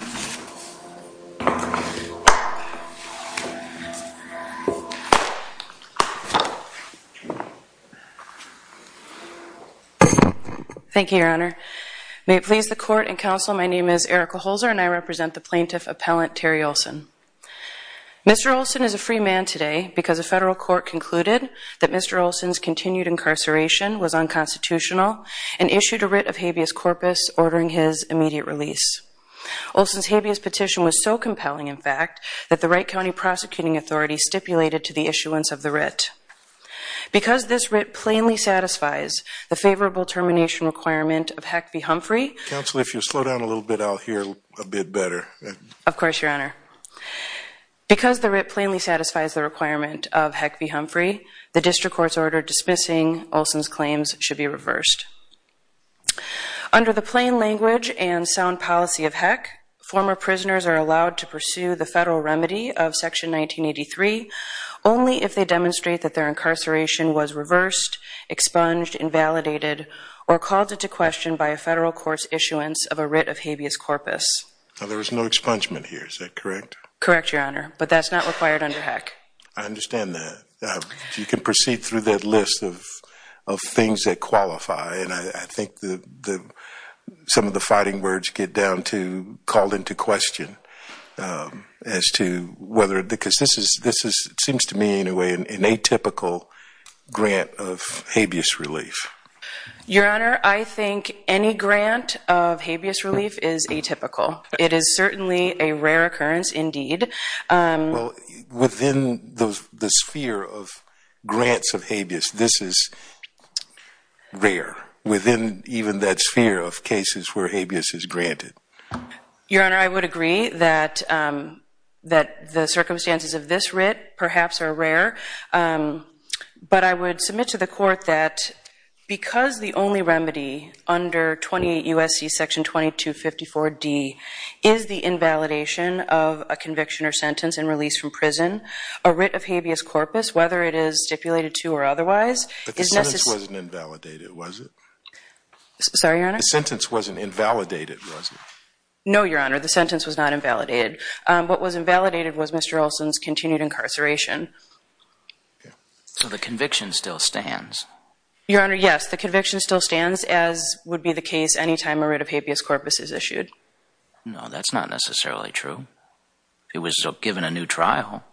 Thank you, your honor. May it please the court and counsel, my name is Erica Holzer and I represent the plaintiff appellant Terry Olson. Mr. Olson is a free man today because the federal court concluded that Mr. Olson's continued incarceration was unconstitutional and issued a writ of habeas corpus ordering his immediate release. Olson's habeas petition was so compelling in fact that the Wright County Prosecuting Authority stipulated to the issuance of the writ. Because this writ plainly satisfies the favorable termination requirement of Heck v. Humphrey. Counsel, if you slow down a little bit, I'll hear a bit better. Of course, your honor. Because the writ plainly satisfies the requirement of Heck v. Humphrey, the district court's order dismissing Olson's claims should be reversed. Under the plain language and sound policy of Heck, former prisoners are allowed to pursue the federal remedy of section 1983 only if they demonstrate that their incarceration was reversed, expunged, invalidated, or called into question by a federal court's issuance of a writ of habeas corpus. Now there is no expungement here, is that correct? Correct, your honor. But that's not required under Heck. I understand that. You can proceed through that list of things that qualify and I think some of the fighting words get down to called into question as to whether, because this is, it seems to me in a way, an atypical grant of habeas relief. Your honor, I think any grant of habeas relief is atypical. It is certainly a rare occurrence indeed. Well, within the sphere of grants of habeas, this is rare. Within even that sphere of cases where habeas is granted. Your honor, I would agree that the circumstances of this writ perhaps are rare, but I would submit to the court that because the only remedy under 28 U.S.C. section 2254 D is the invalidation of a conviction or sentence and release from prison, a writ of habeas corpus, whether it is stipulated to or otherwise, is necessary. But the sentence wasn't invalidated, was it? Sorry, your honor? The sentence wasn't invalidated, was it? No, your honor, the sentence was not invalidated. What was invalidated was Mr. Olson's continued incarceration. So the conviction still stands? Your honor, yes, the conviction still stands as would be the case any time a writ of habeas corpus is issued. No, that's not necessarily true. It was given a new trial.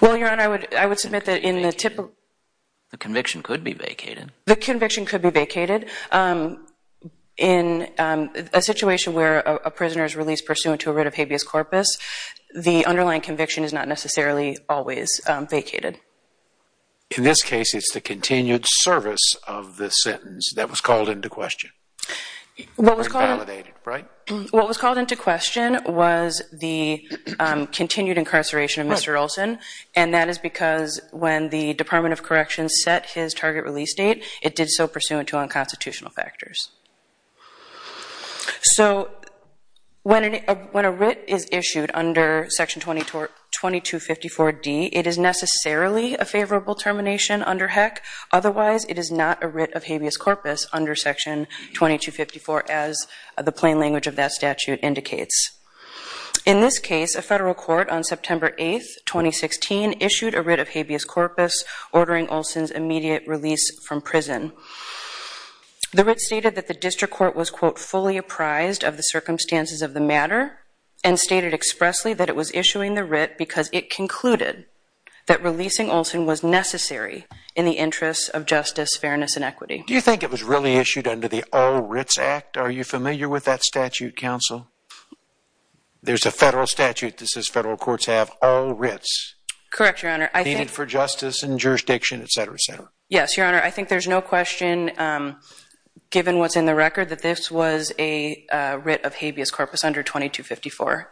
Well, your honor, I would submit that in the typical... The conviction could be vacated. The conviction could be vacated. In a situation where a prisoner is released pursuant to a writ of habeas corpus, the underlying conviction is not necessarily always vacated. In this case, it's the continued service of the sentence that was called into question. Invalidated, right? What was called into question was the continued incarceration of Mr. Olson. And that is because when the Department of Corrections set his target release date, it did so pursuant to unconstitutional factors. So when a writ is issued under Section 2254D, it is necessarily a favorable termination under HECC. Otherwise, it is not a writ of habeas corpus under Section 2254 as the plain language of that statute indicates. In this case, a federal court on September 8, 2016, issued a writ of habeas corpus ordering Olson's immediate release from prison. The writ stated that the district court was, quote, fully apprised of the circumstances of the matter and stated expressly that it was issuing the writ because it concluded that it was in the interest of justice, fairness, and equity. Do you think it was really issued under the All Writs Act? Are you familiar with that statute, counsel? There's a federal statute that says federal courts have all writs. Correct, Your Honor. Needed for justice and jurisdiction, et cetera, et cetera. Yes, Your Honor. I think there's no question, given what's in the record, that this was a writ of habeas corpus under 2254.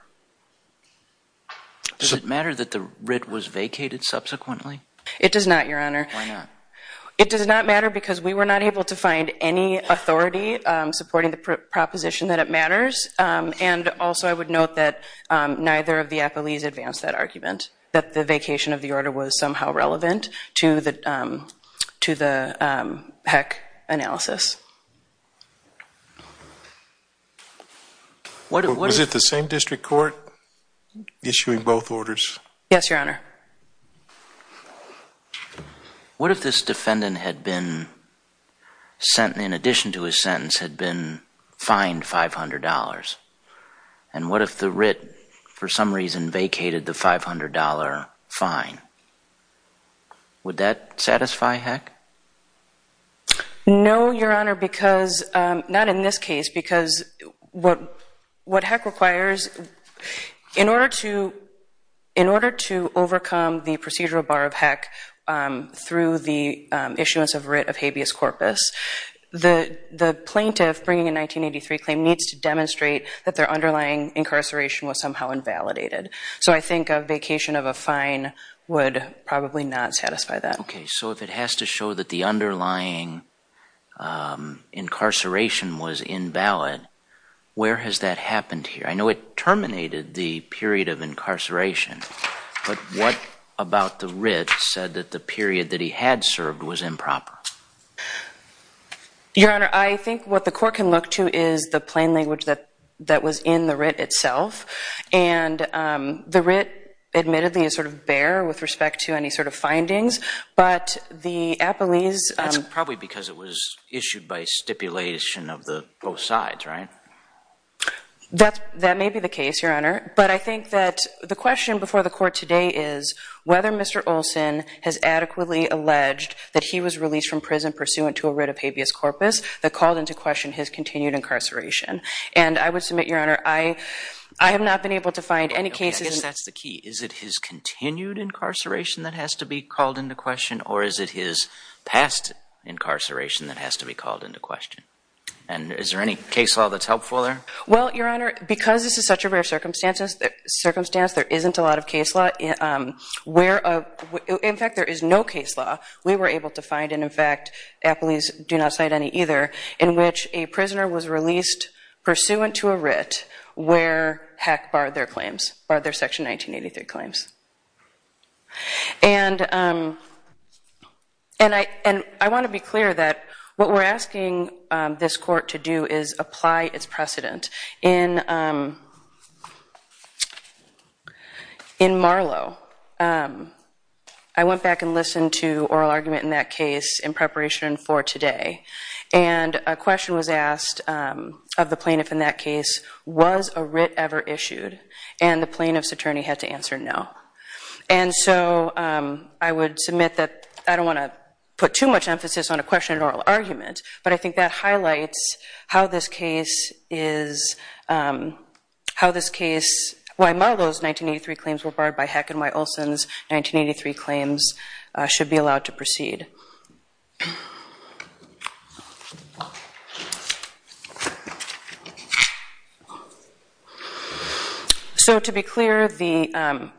Does it matter that the writ was vacated subsequently? It does not, Your Honor. Why not? It does not matter because we were not able to find any authority supporting the proposition that it matters. And also, I would note that neither of the appellees advanced that argument, that the vacation of the order was somehow relevant to the HEC analysis. Was it the same district court issuing both orders? Yes, Your Honor. What if this defendant, in addition to his sentence, had been fined $500? And what if the writ, for some reason, vacated the $500 fine? Would that satisfy HEC? No, Your Honor, not in this case. Because what HEC requires, in order to overcome the procedural bar of HEC through the issuance of a writ of habeas corpus, the plaintiff bringing a 1983 claim needs to demonstrate that their underlying incarceration was somehow invalidated. So I think a vacation of a fine would probably not satisfy that. Okay, so if it has to show that the underlying incarceration was invalid, where has that happened here? I know it terminated the period of incarceration, but what about the writ said that the period that he had served was improper? Your Honor, I think what the court can look to is the plain language that was in the writ itself. And the writ, admittedly, is sort of bare with respect to any sort of findings. But the appellees... That's probably because it was issued by stipulation of both sides, right? That may be the case, Your Honor. But I think that the question before the court today is whether Mr. Olson has adequately alleged that he was released from prison pursuant to a writ of habeas corpus that called into question his continued incarceration. And I would submit, Your Honor, I have not been able to find any cases... Okay, I guess that's the key. Is it his continued incarceration that has to be called into question, or is it his past incarceration that has to be called into question? And is there any case law that's helpful there? Well, Your Honor, because this is such a rare circumstance, there isn't a lot of case law. In fact, there is no case law we were able to find, and in fact, appellees do not cite any either, in which a prisoner was released pursuant to a writ where, heck, barred their claims, barred their Section 1983 claims. And I want to be clear that what we're asking this court to do is apply its precedent. In Marlow, I went back and listened to oral argument in that case in preparation for today. And a question was asked of the plaintiff in that case, was a writ ever issued? And the plaintiff's attorney had to answer no. And so I would submit that I don't want to put too much emphasis on a question and oral argument, but I think that highlights how this case is, how this case, why Marlow's 1983 claims were barred by heck, and why Olson's 1983 claims should be allowed to proceed. So to be clear,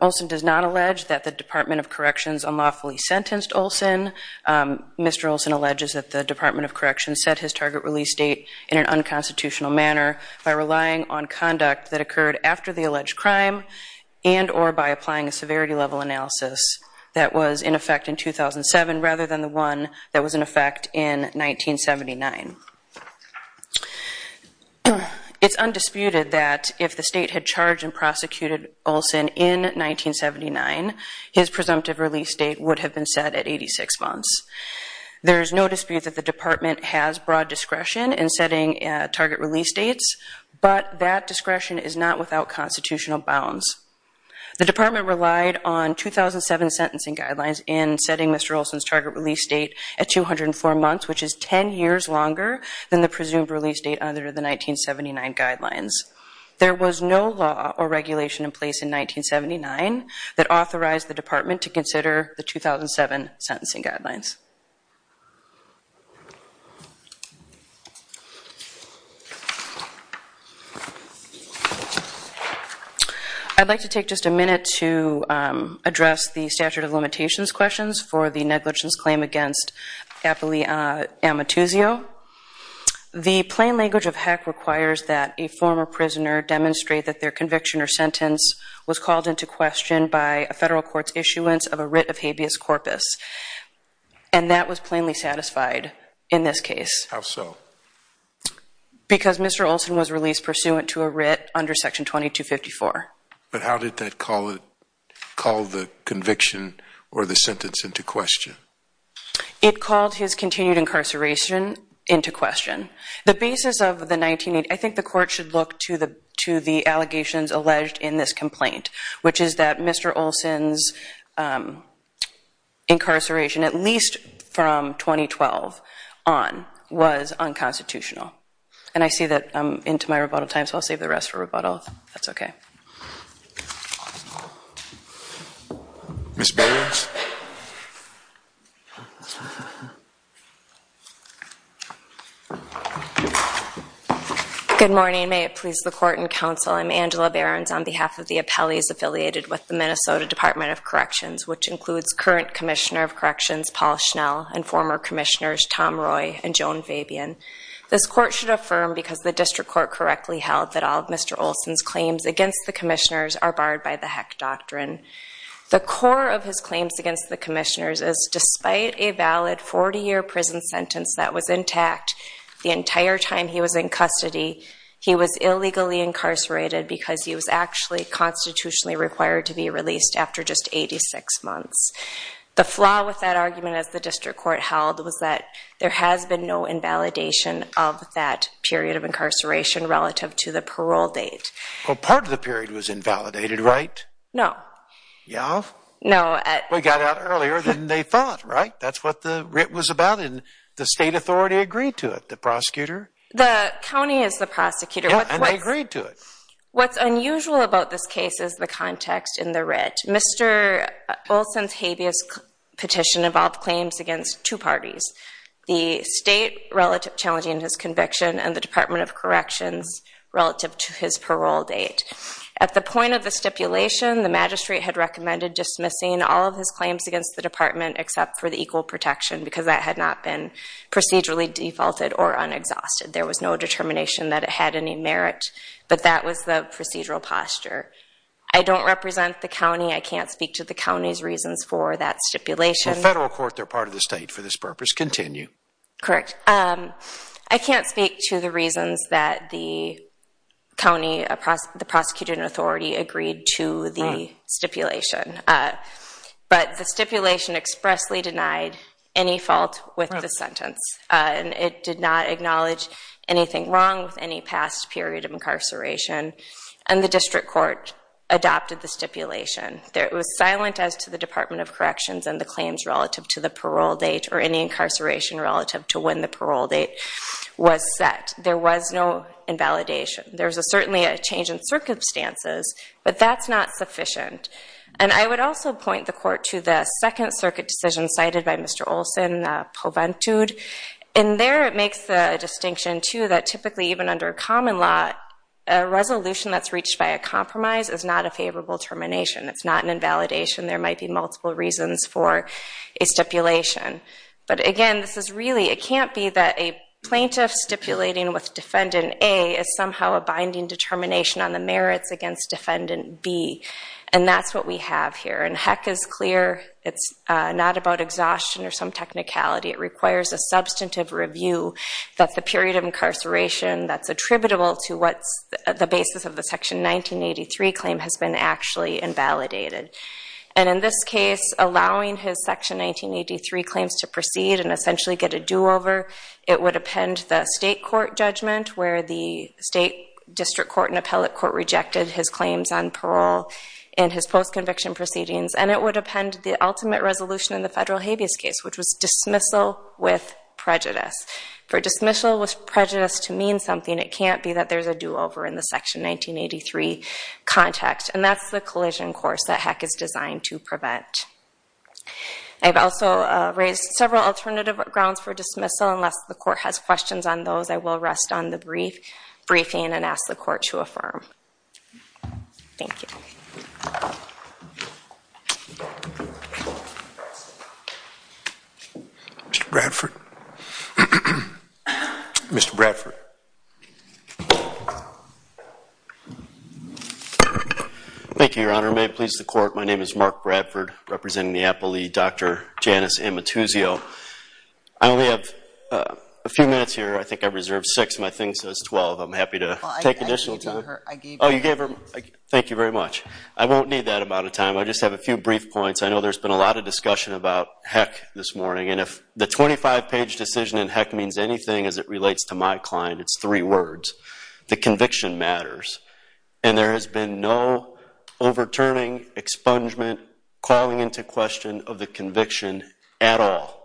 Olson does not allege that the Department of Corrections unlawfully sentenced Olson. Mr. Olson alleges that the Department of Corrections set his target release date in an unconstitutional manner by relying on conduct that occurred after the alleged crime and or by applying a severity level analysis that was in effect in 2007 rather than the one that was in effect in 1979. It's undisputed that if the state had charged and prosecuted Olson in 1979, his presumptive release date would have been set at 86 months. There is no dispute that the department has broad discretion in setting target release dates, but that discretion is not without constitutional bounds. The department relied on 2007 sentencing guidelines in setting Mr. Olson's target release date at 204 months, which is 10 years longer than the presumed release date under the 1979 guidelines. There was no law or regulation in place in 1979 that authorized the department to consider the 2007 sentencing guidelines. I'd like to take just a minute to address the statute of limitations questions for the negligence claim against The plain language of heck requires that a former prisoner demonstrate that their conviction or sentence was called into question by a federal court's issuance of a writ of habeas corpus, and that was plainly satisfied in this case. How so? Because Mr. Olson was released pursuant to a writ under Section 2254. But how did that call the conviction or the sentence into question? It called his continued incarceration into question. The basis of the 1980s, I think the court should look to the allegations alleged in this complaint, which is that Mr. Olson's incarceration, at least from 2012 on, was unconstitutional. And I see that I'm into my rebuttal time, so I'll save the rest for rebuttal. That's okay. Ms. Behrens. Good morning. May it please the court and counsel, I'm Angela Behrens on behalf of the appellees affiliated with the Minnesota Department of Corrections, which includes current Commissioner of Corrections Paul Schnell and former Commissioners Tom Roy and Joan Fabian. This court should affirm, because the district court correctly held, that all of Mr. Olson's claims against the commissioners are barred by the Heck Doctrine. The core of his claims against the commissioners is, despite a valid 40-year prison sentence that was intact the entire time he was in custody, he was illegally incarcerated because he was actually constitutionally required to be released after just 86 months. The flaw with that argument, as the district court held, was that there has been no invalidation of that period of incarceration relative to the parole date. Well, part of the period was invalidated, right? No. Yeah? No. Well, he got out earlier than they thought, right? That's what the writ was about, and the state authority agreed to it, the prosecutor. The county is the prosecutor. Yeah, and they agreed to it. What's unusual about this case is the context in the writ. Mr. Olson's habeas petition involved claims against two parties, the state challenging his conviction and the Department of Corrections relative to his parole date. At the point of the stipulation, the magistrate had recommended dismissing all of his claims against the department except for the equal protection because that had not been procedurally defaulted or unexhausted. There was no determination that it had any merit, but that was the procedural posture. I don't represent the county. I can't speak to the county's reasons for that stipulation. The federal court, they're part of the state for this purpose. Continue. Correct. I can't speak to the reasons that the county, the prosecutor and authority agreed to the stipulation, but the stipulation expressly denied any fault with the sentence, and it did not acknowledge anything wrong with any past period of incarceration, and the district court adopted the stipulation. It was silent as to the Department of Corrections and the claims relative to the parole date or any incarceration relative to when the parole date was set. There was no invalidation. There was certainly a change in circumstances, but that's not sufficient. And I would also point the court to the Second Circuit decision cited by Mr. Olson, Proventude. In there, it makes the distinction, too, that typically even under a common law, a resolution that's reached by a compromise is not a favorable termination. It's not an invalidation. There might be multiple reasons for a stipulation. But again, this is really, it can't be that a plaintiff stipulating with Defendant A is somehow a binding determination on the merits against Defendant B, and that's what we have here. And heck is clear, it's not about exhaustion or some technicality. It requires a substantive review that the period of incarceration that's attributable to what's the basis of the Section 1983 claim has been actually invalidated. And in this case, allowing his Section 1983 claims to proceed and essentially get a do-over, it would append the state court judgment where the state district court and appellate court rejected his claims on parole in his post-conviction proceedings, and it would append the ultimate resolution in the federal habeas case, which was dismissal with prejudice. For dismissal with prejudice to mean something, it can't be that there's a do-over in the Section 1983 context, and that's the collision course that heck is designed to prevent. I've also raised several alternative grounds for dismissal. Unless the court has questions on those, I will rest on the briefing and ask the court to affirm. Thank you. Mr. Bradford? Mr. Bradford? Thank you, Your Honor. May it please the court, my name is Mark Bradford, representing the appellee, Dr. Janice Amatuzio. I only have a few minutes here. I think I reserved six of my things, so it's 12. I'm happy to take additional time. Thank you very much. I won't need that amount of time. I just have a few brief points. I know there's been a lot of discussion about heck this morning, and if the 25-page decision in heck means anything as it relates to my client, it's three words. The conviction matters, and there has been no overturning, expungement, calling into question of the conviction at all.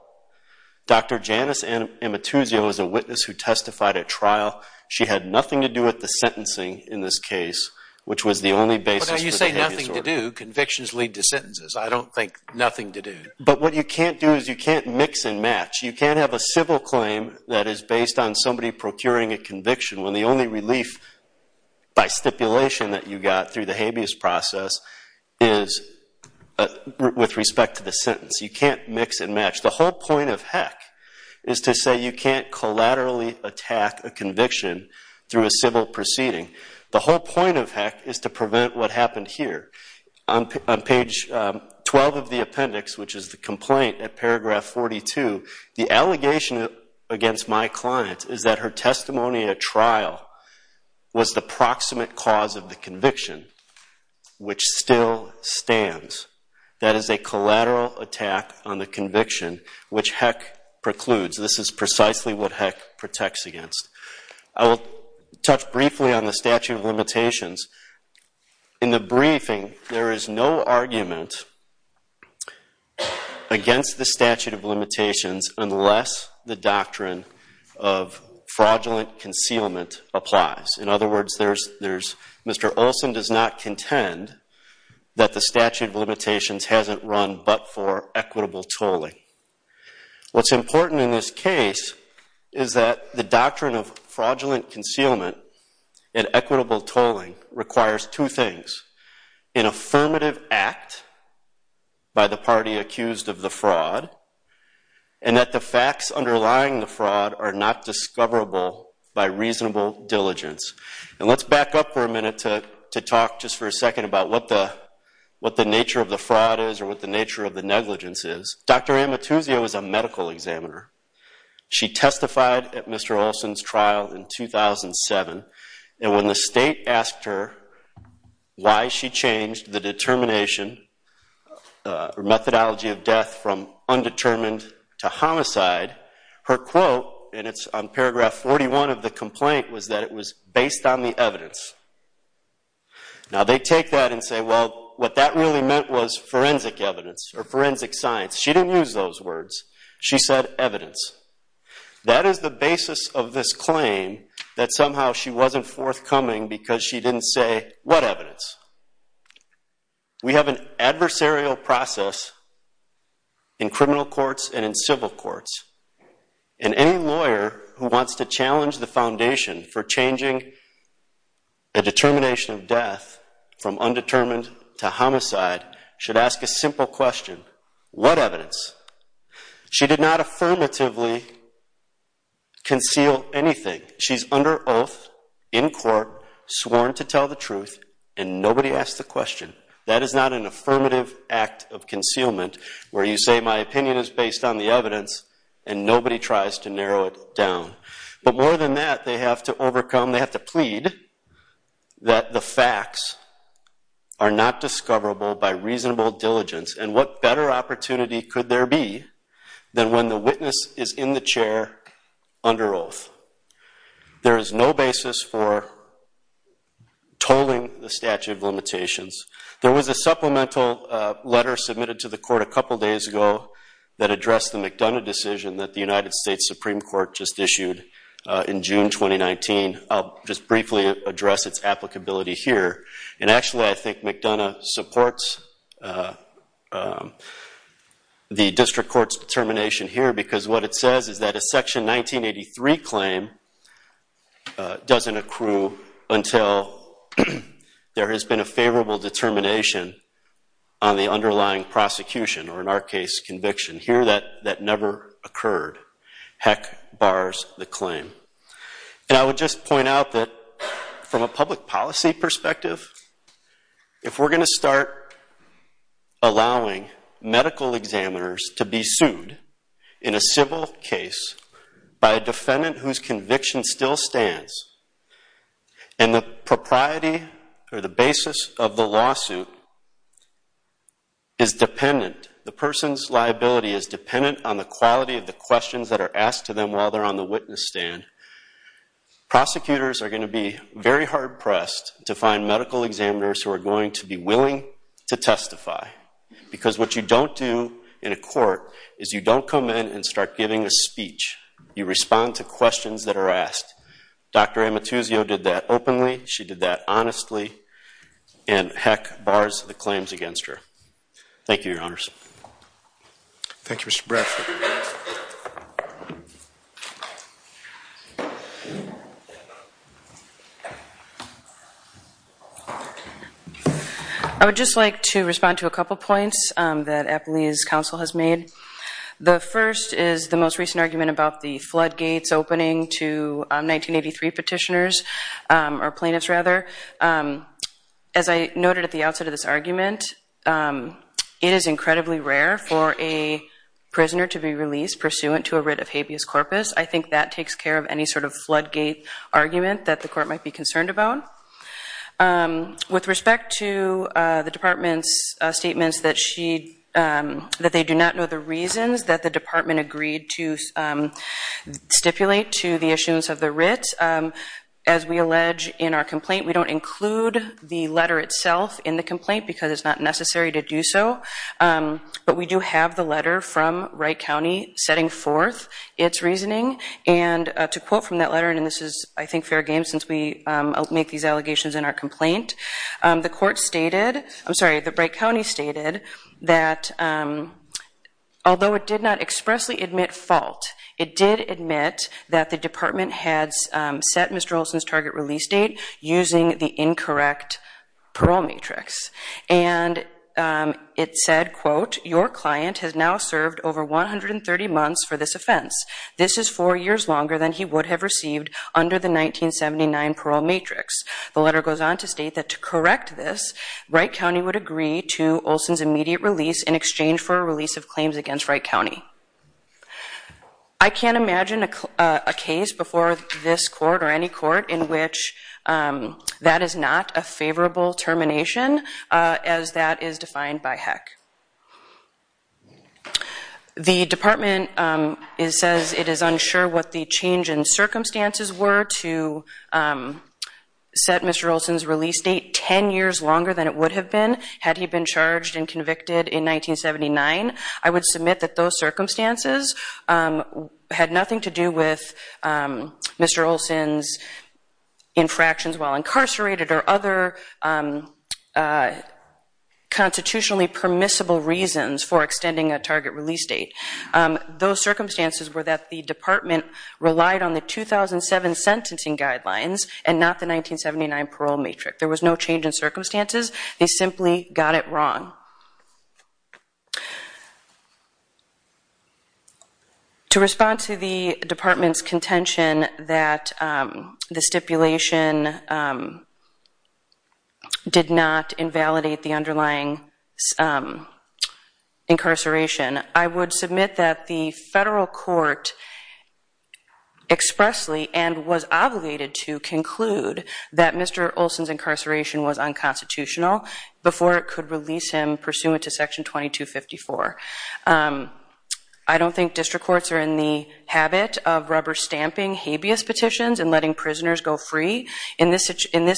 Dr. Janice Amatuzio is a witness who testified at trial. She had nothing to do with the sentencing in this case, which was the only basis for the habeas order. When you say nothing to do, convictions lead to sentences. I don't think nothing to do. But what you can't do is you can't mix and match. You can't have a civil claim that is based on somebody procuring a conviction when the only relief by stipulation that you got through the habeas process is with respect to the sentence. You can't mix and match. The whole point of heck is to say you can't collaterally attack a conviction through a civil proceeding. The whole point of heck is to prevent what happened here. On page 12 of the appendix, which is the complaint at paragraph 42, the allegation against my client is that her testimony at trial was the proximate cause of the conviction, which still stands. That is a collateral attack on the conviction, which heck precludes. This is precisely what heck protects against. I will touch briefly on the statute of limitations. In the briefing, there is no argument against the statute of limitations unless the doctrine of fraudulent concealment applies. In other words, Mr. Olson does not contend that the statute of limitations hasn't run but for equitable tolling. What's important in this case is that the doctrine of fraudulent concealment and equitable tolling requires two things, an affirmative act by the party accused of the fraud and that the facts underlying the fraud are not discoverable by reasonable diligence. Let's back up for a minute to talk just for a second about what the nature of the fraud is or what the nature of the negligence is. Dr. Amatuzio is a medical examiner. She testified at Mr. Olson's trial in 2007, and when the state asked her why she changed the determination or methodology of death from undetermined to homicide, her quote, and it's on paragraph 41 of the complaint, was that it was based on the evidence. Now they take that and say, well, what that really meant was forensic evidence or forensic science. She didn't use those words. She said evidence. That is the basis of this claim that somehow she wasn't forthcoming because she didn't say what evidence. We have an adversarial process in criminal courts and in civil courts, and any lawyer who wants to challenge the foundation for changing a determination of death from undetermined to homicide should ask a simple question, what evidence? She did not affirmatively conceal anything. She's under oath, in court, sworn to tell the truth, and nobody asked the question. That is not an affirmative act of concealment where you say my opinion is based on the evidence and nobody tries to narrow it down. But more than that, they have to overcome, they have to plead that the facts are not discoverable by reasonable diligence, and what better opportunity could there be than when the witness is in the chair under oath? There is no basis for tolling the statute of limitations. There was a supplemental letter submitted to the court a couple days ago that addressed the McDonough decision that the United States Supreme Court just issued in June 2019. I'll just briefly address its applicability here. Actually, I think McDonough supports the district court's determination here because what it says is that a Section 1983 claim doesn't accrue until there has been a favorable determination on the underlying prosecution, or in our case, conviction. Here, that never occurred. Heck, bars the claim. I would just point out that from a public policy perspective, if we're going to start allowing medical examiners to be sued in a civil case by a defendant whose conviction still stands, and the propriety or the basis of the lawsuit is dependent, the person's liability is dependent on the quality of the questions that are asked to them while they're on the witness stand. Prosecutors are going to be very hard-pressed to find medical examiners who are going to be willing to testify because what you don't do in a court is you don't come in and start giving a speech. You respond to questions that are asked. Dr. Amatuzio did that openly. She did that honestly. And heck, bars the claims against her. Thank you, Your Honors. Thank you, Mr. Bradford. I would just like to respond to a couple of points that APLEI's counsel has made. The first is the most recent argument about the floodgates opening to 1983 petitioners, or plaintiffs, rather. As I noted at the outset of this argument, it is incredibly rare for a prisoner to be released pursuant to a writ of habeas corpus. I think that takes care of any sort of floodgate argument that the court might be concerned about. With respect to the Department's statements that they do not know the reasons that the Department agreed to stipulate to the issuance of the writ, as we allege in our complaint, we don't include the letter itself in the complaint because it's not necessary to do so. But we do have the letter from Wright County setting forth its reasoning. And to quote from that letter, and this is, I think, fair game since we make these allegations in our complaint, the court stated, I'm sorry, the Wright County stated that although it did not expressly admit fault, it did admit that the Department had set Mr. Olson's target release date using the incorrect parole matrix. And it said, quote, Your client has now served over 130 months for this offense. This is four years longer than he would have received under the 1979 parole matrix. The letter goes on to state that to correct this, Wright County would agree to Olson's immediate release in exchange for a release of claims against Wright County. I can't imagine a case before this court or any court in which that is not a favorable termination as that is defined by HEC. The Department says it is unsure what the change in circumstances were to set Mr. Olson's release date 10 years longer than it would have been had he been charged and convicted in 1979. I would submit that those circumstances had nothing to do with Mr. Olson's infractions while incarcerated or other constitutionally permissible reasons for extending a target release date. Those circumstances were that the Department relied on the 2007 sentencing guidelines and not the 1979 parole matrix. There was no change in circumstances. They simply got it wrong. To respond to the Department's contention that the stipulation did not invalidate the underlying incarceration, I would submit that the federal court expressly and was obligated to conclude that Mr. Olson's incarceration was unconstitutional before it could release him pursuant to Section 2254. I don't think district courts are in the habit of rubber stamping habeas petitions and letting prisoners go free. In this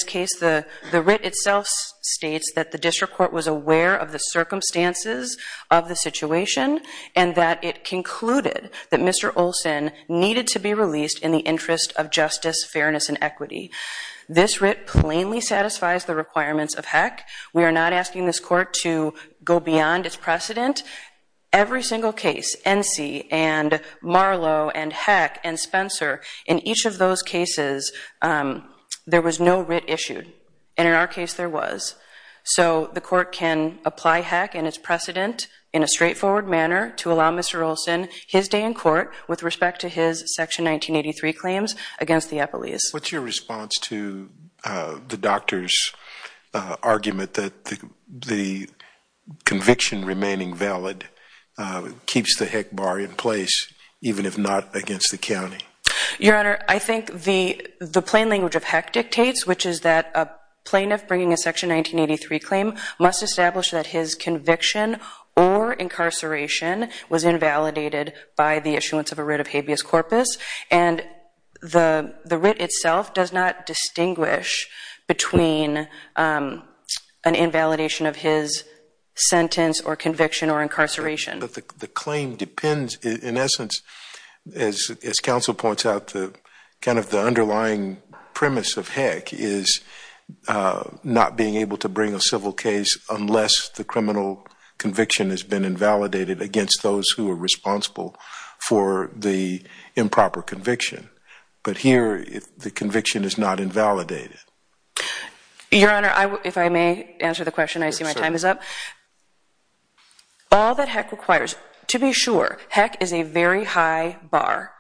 case, the writ itself states that the district court was aware of the circumstances of the situation and that it concluded that Mr. Olson needed to be released in the interest of justice, fairness, and equity. This writ plainly satisfies the requirements of HECC. We are not asking this court to go beyond its precedent. Every single case, NC and Marlowe and HECC and Spencer, in each of those cases, there was no writ issued, and in our case there was. So the court can apply HECC and its precedent in a straightforward manner to allow Mr. Olson his day in court with respect to his Section 1983 claims against the Eppleys. What's your response to the doctor's argument that the conviction remaining valid keeps the HECC bar in place, even if not against the county? Your Honor, I think the plain language of HECC dictates, which is that a plaintiff bringing a Section 1983 claim must establish that his conviction or incarceration was invalidated by the issuance of a writ of habeas corpus. And the writ itself does not distinguish between an invalidation of his sentence or conviction or incarceration. But the claim depends, in essence, as counsel points out, kind of the underlying premise of HECC is not being able to bring a civil case unless the criminal conviction has been invalidated against those who are responsible for the improper conviction. But here the conviction is not invalidated. Your Honor, if I may answer the question. I see my time is up. All that HECC requires, to be sure, HECC is a very high bar.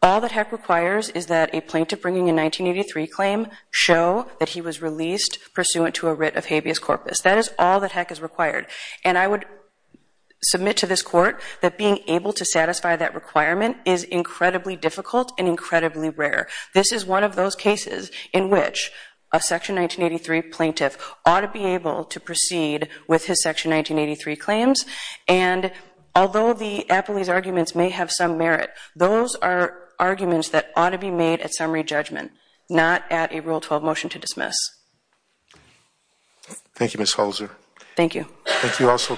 All that HECC requires is that a plaintiff bringing a 1983 claim show that he was released pursuant to a writ of habeas corpus. That is all that HECC is required. And I would submit to this Court that being able to satisfy that requirement is incredibly difficult and incredibly rare. This is one of those cases in which a Section 1983 plaintiff ought to be able to proceed with his Section 1983 claims. And although the Appley's arguments may have some merit, those are arguments that ought to be made at summary judgment, not at a Rule 12 motion to dismiss. Thank you, Ms. Holzer. Thank you.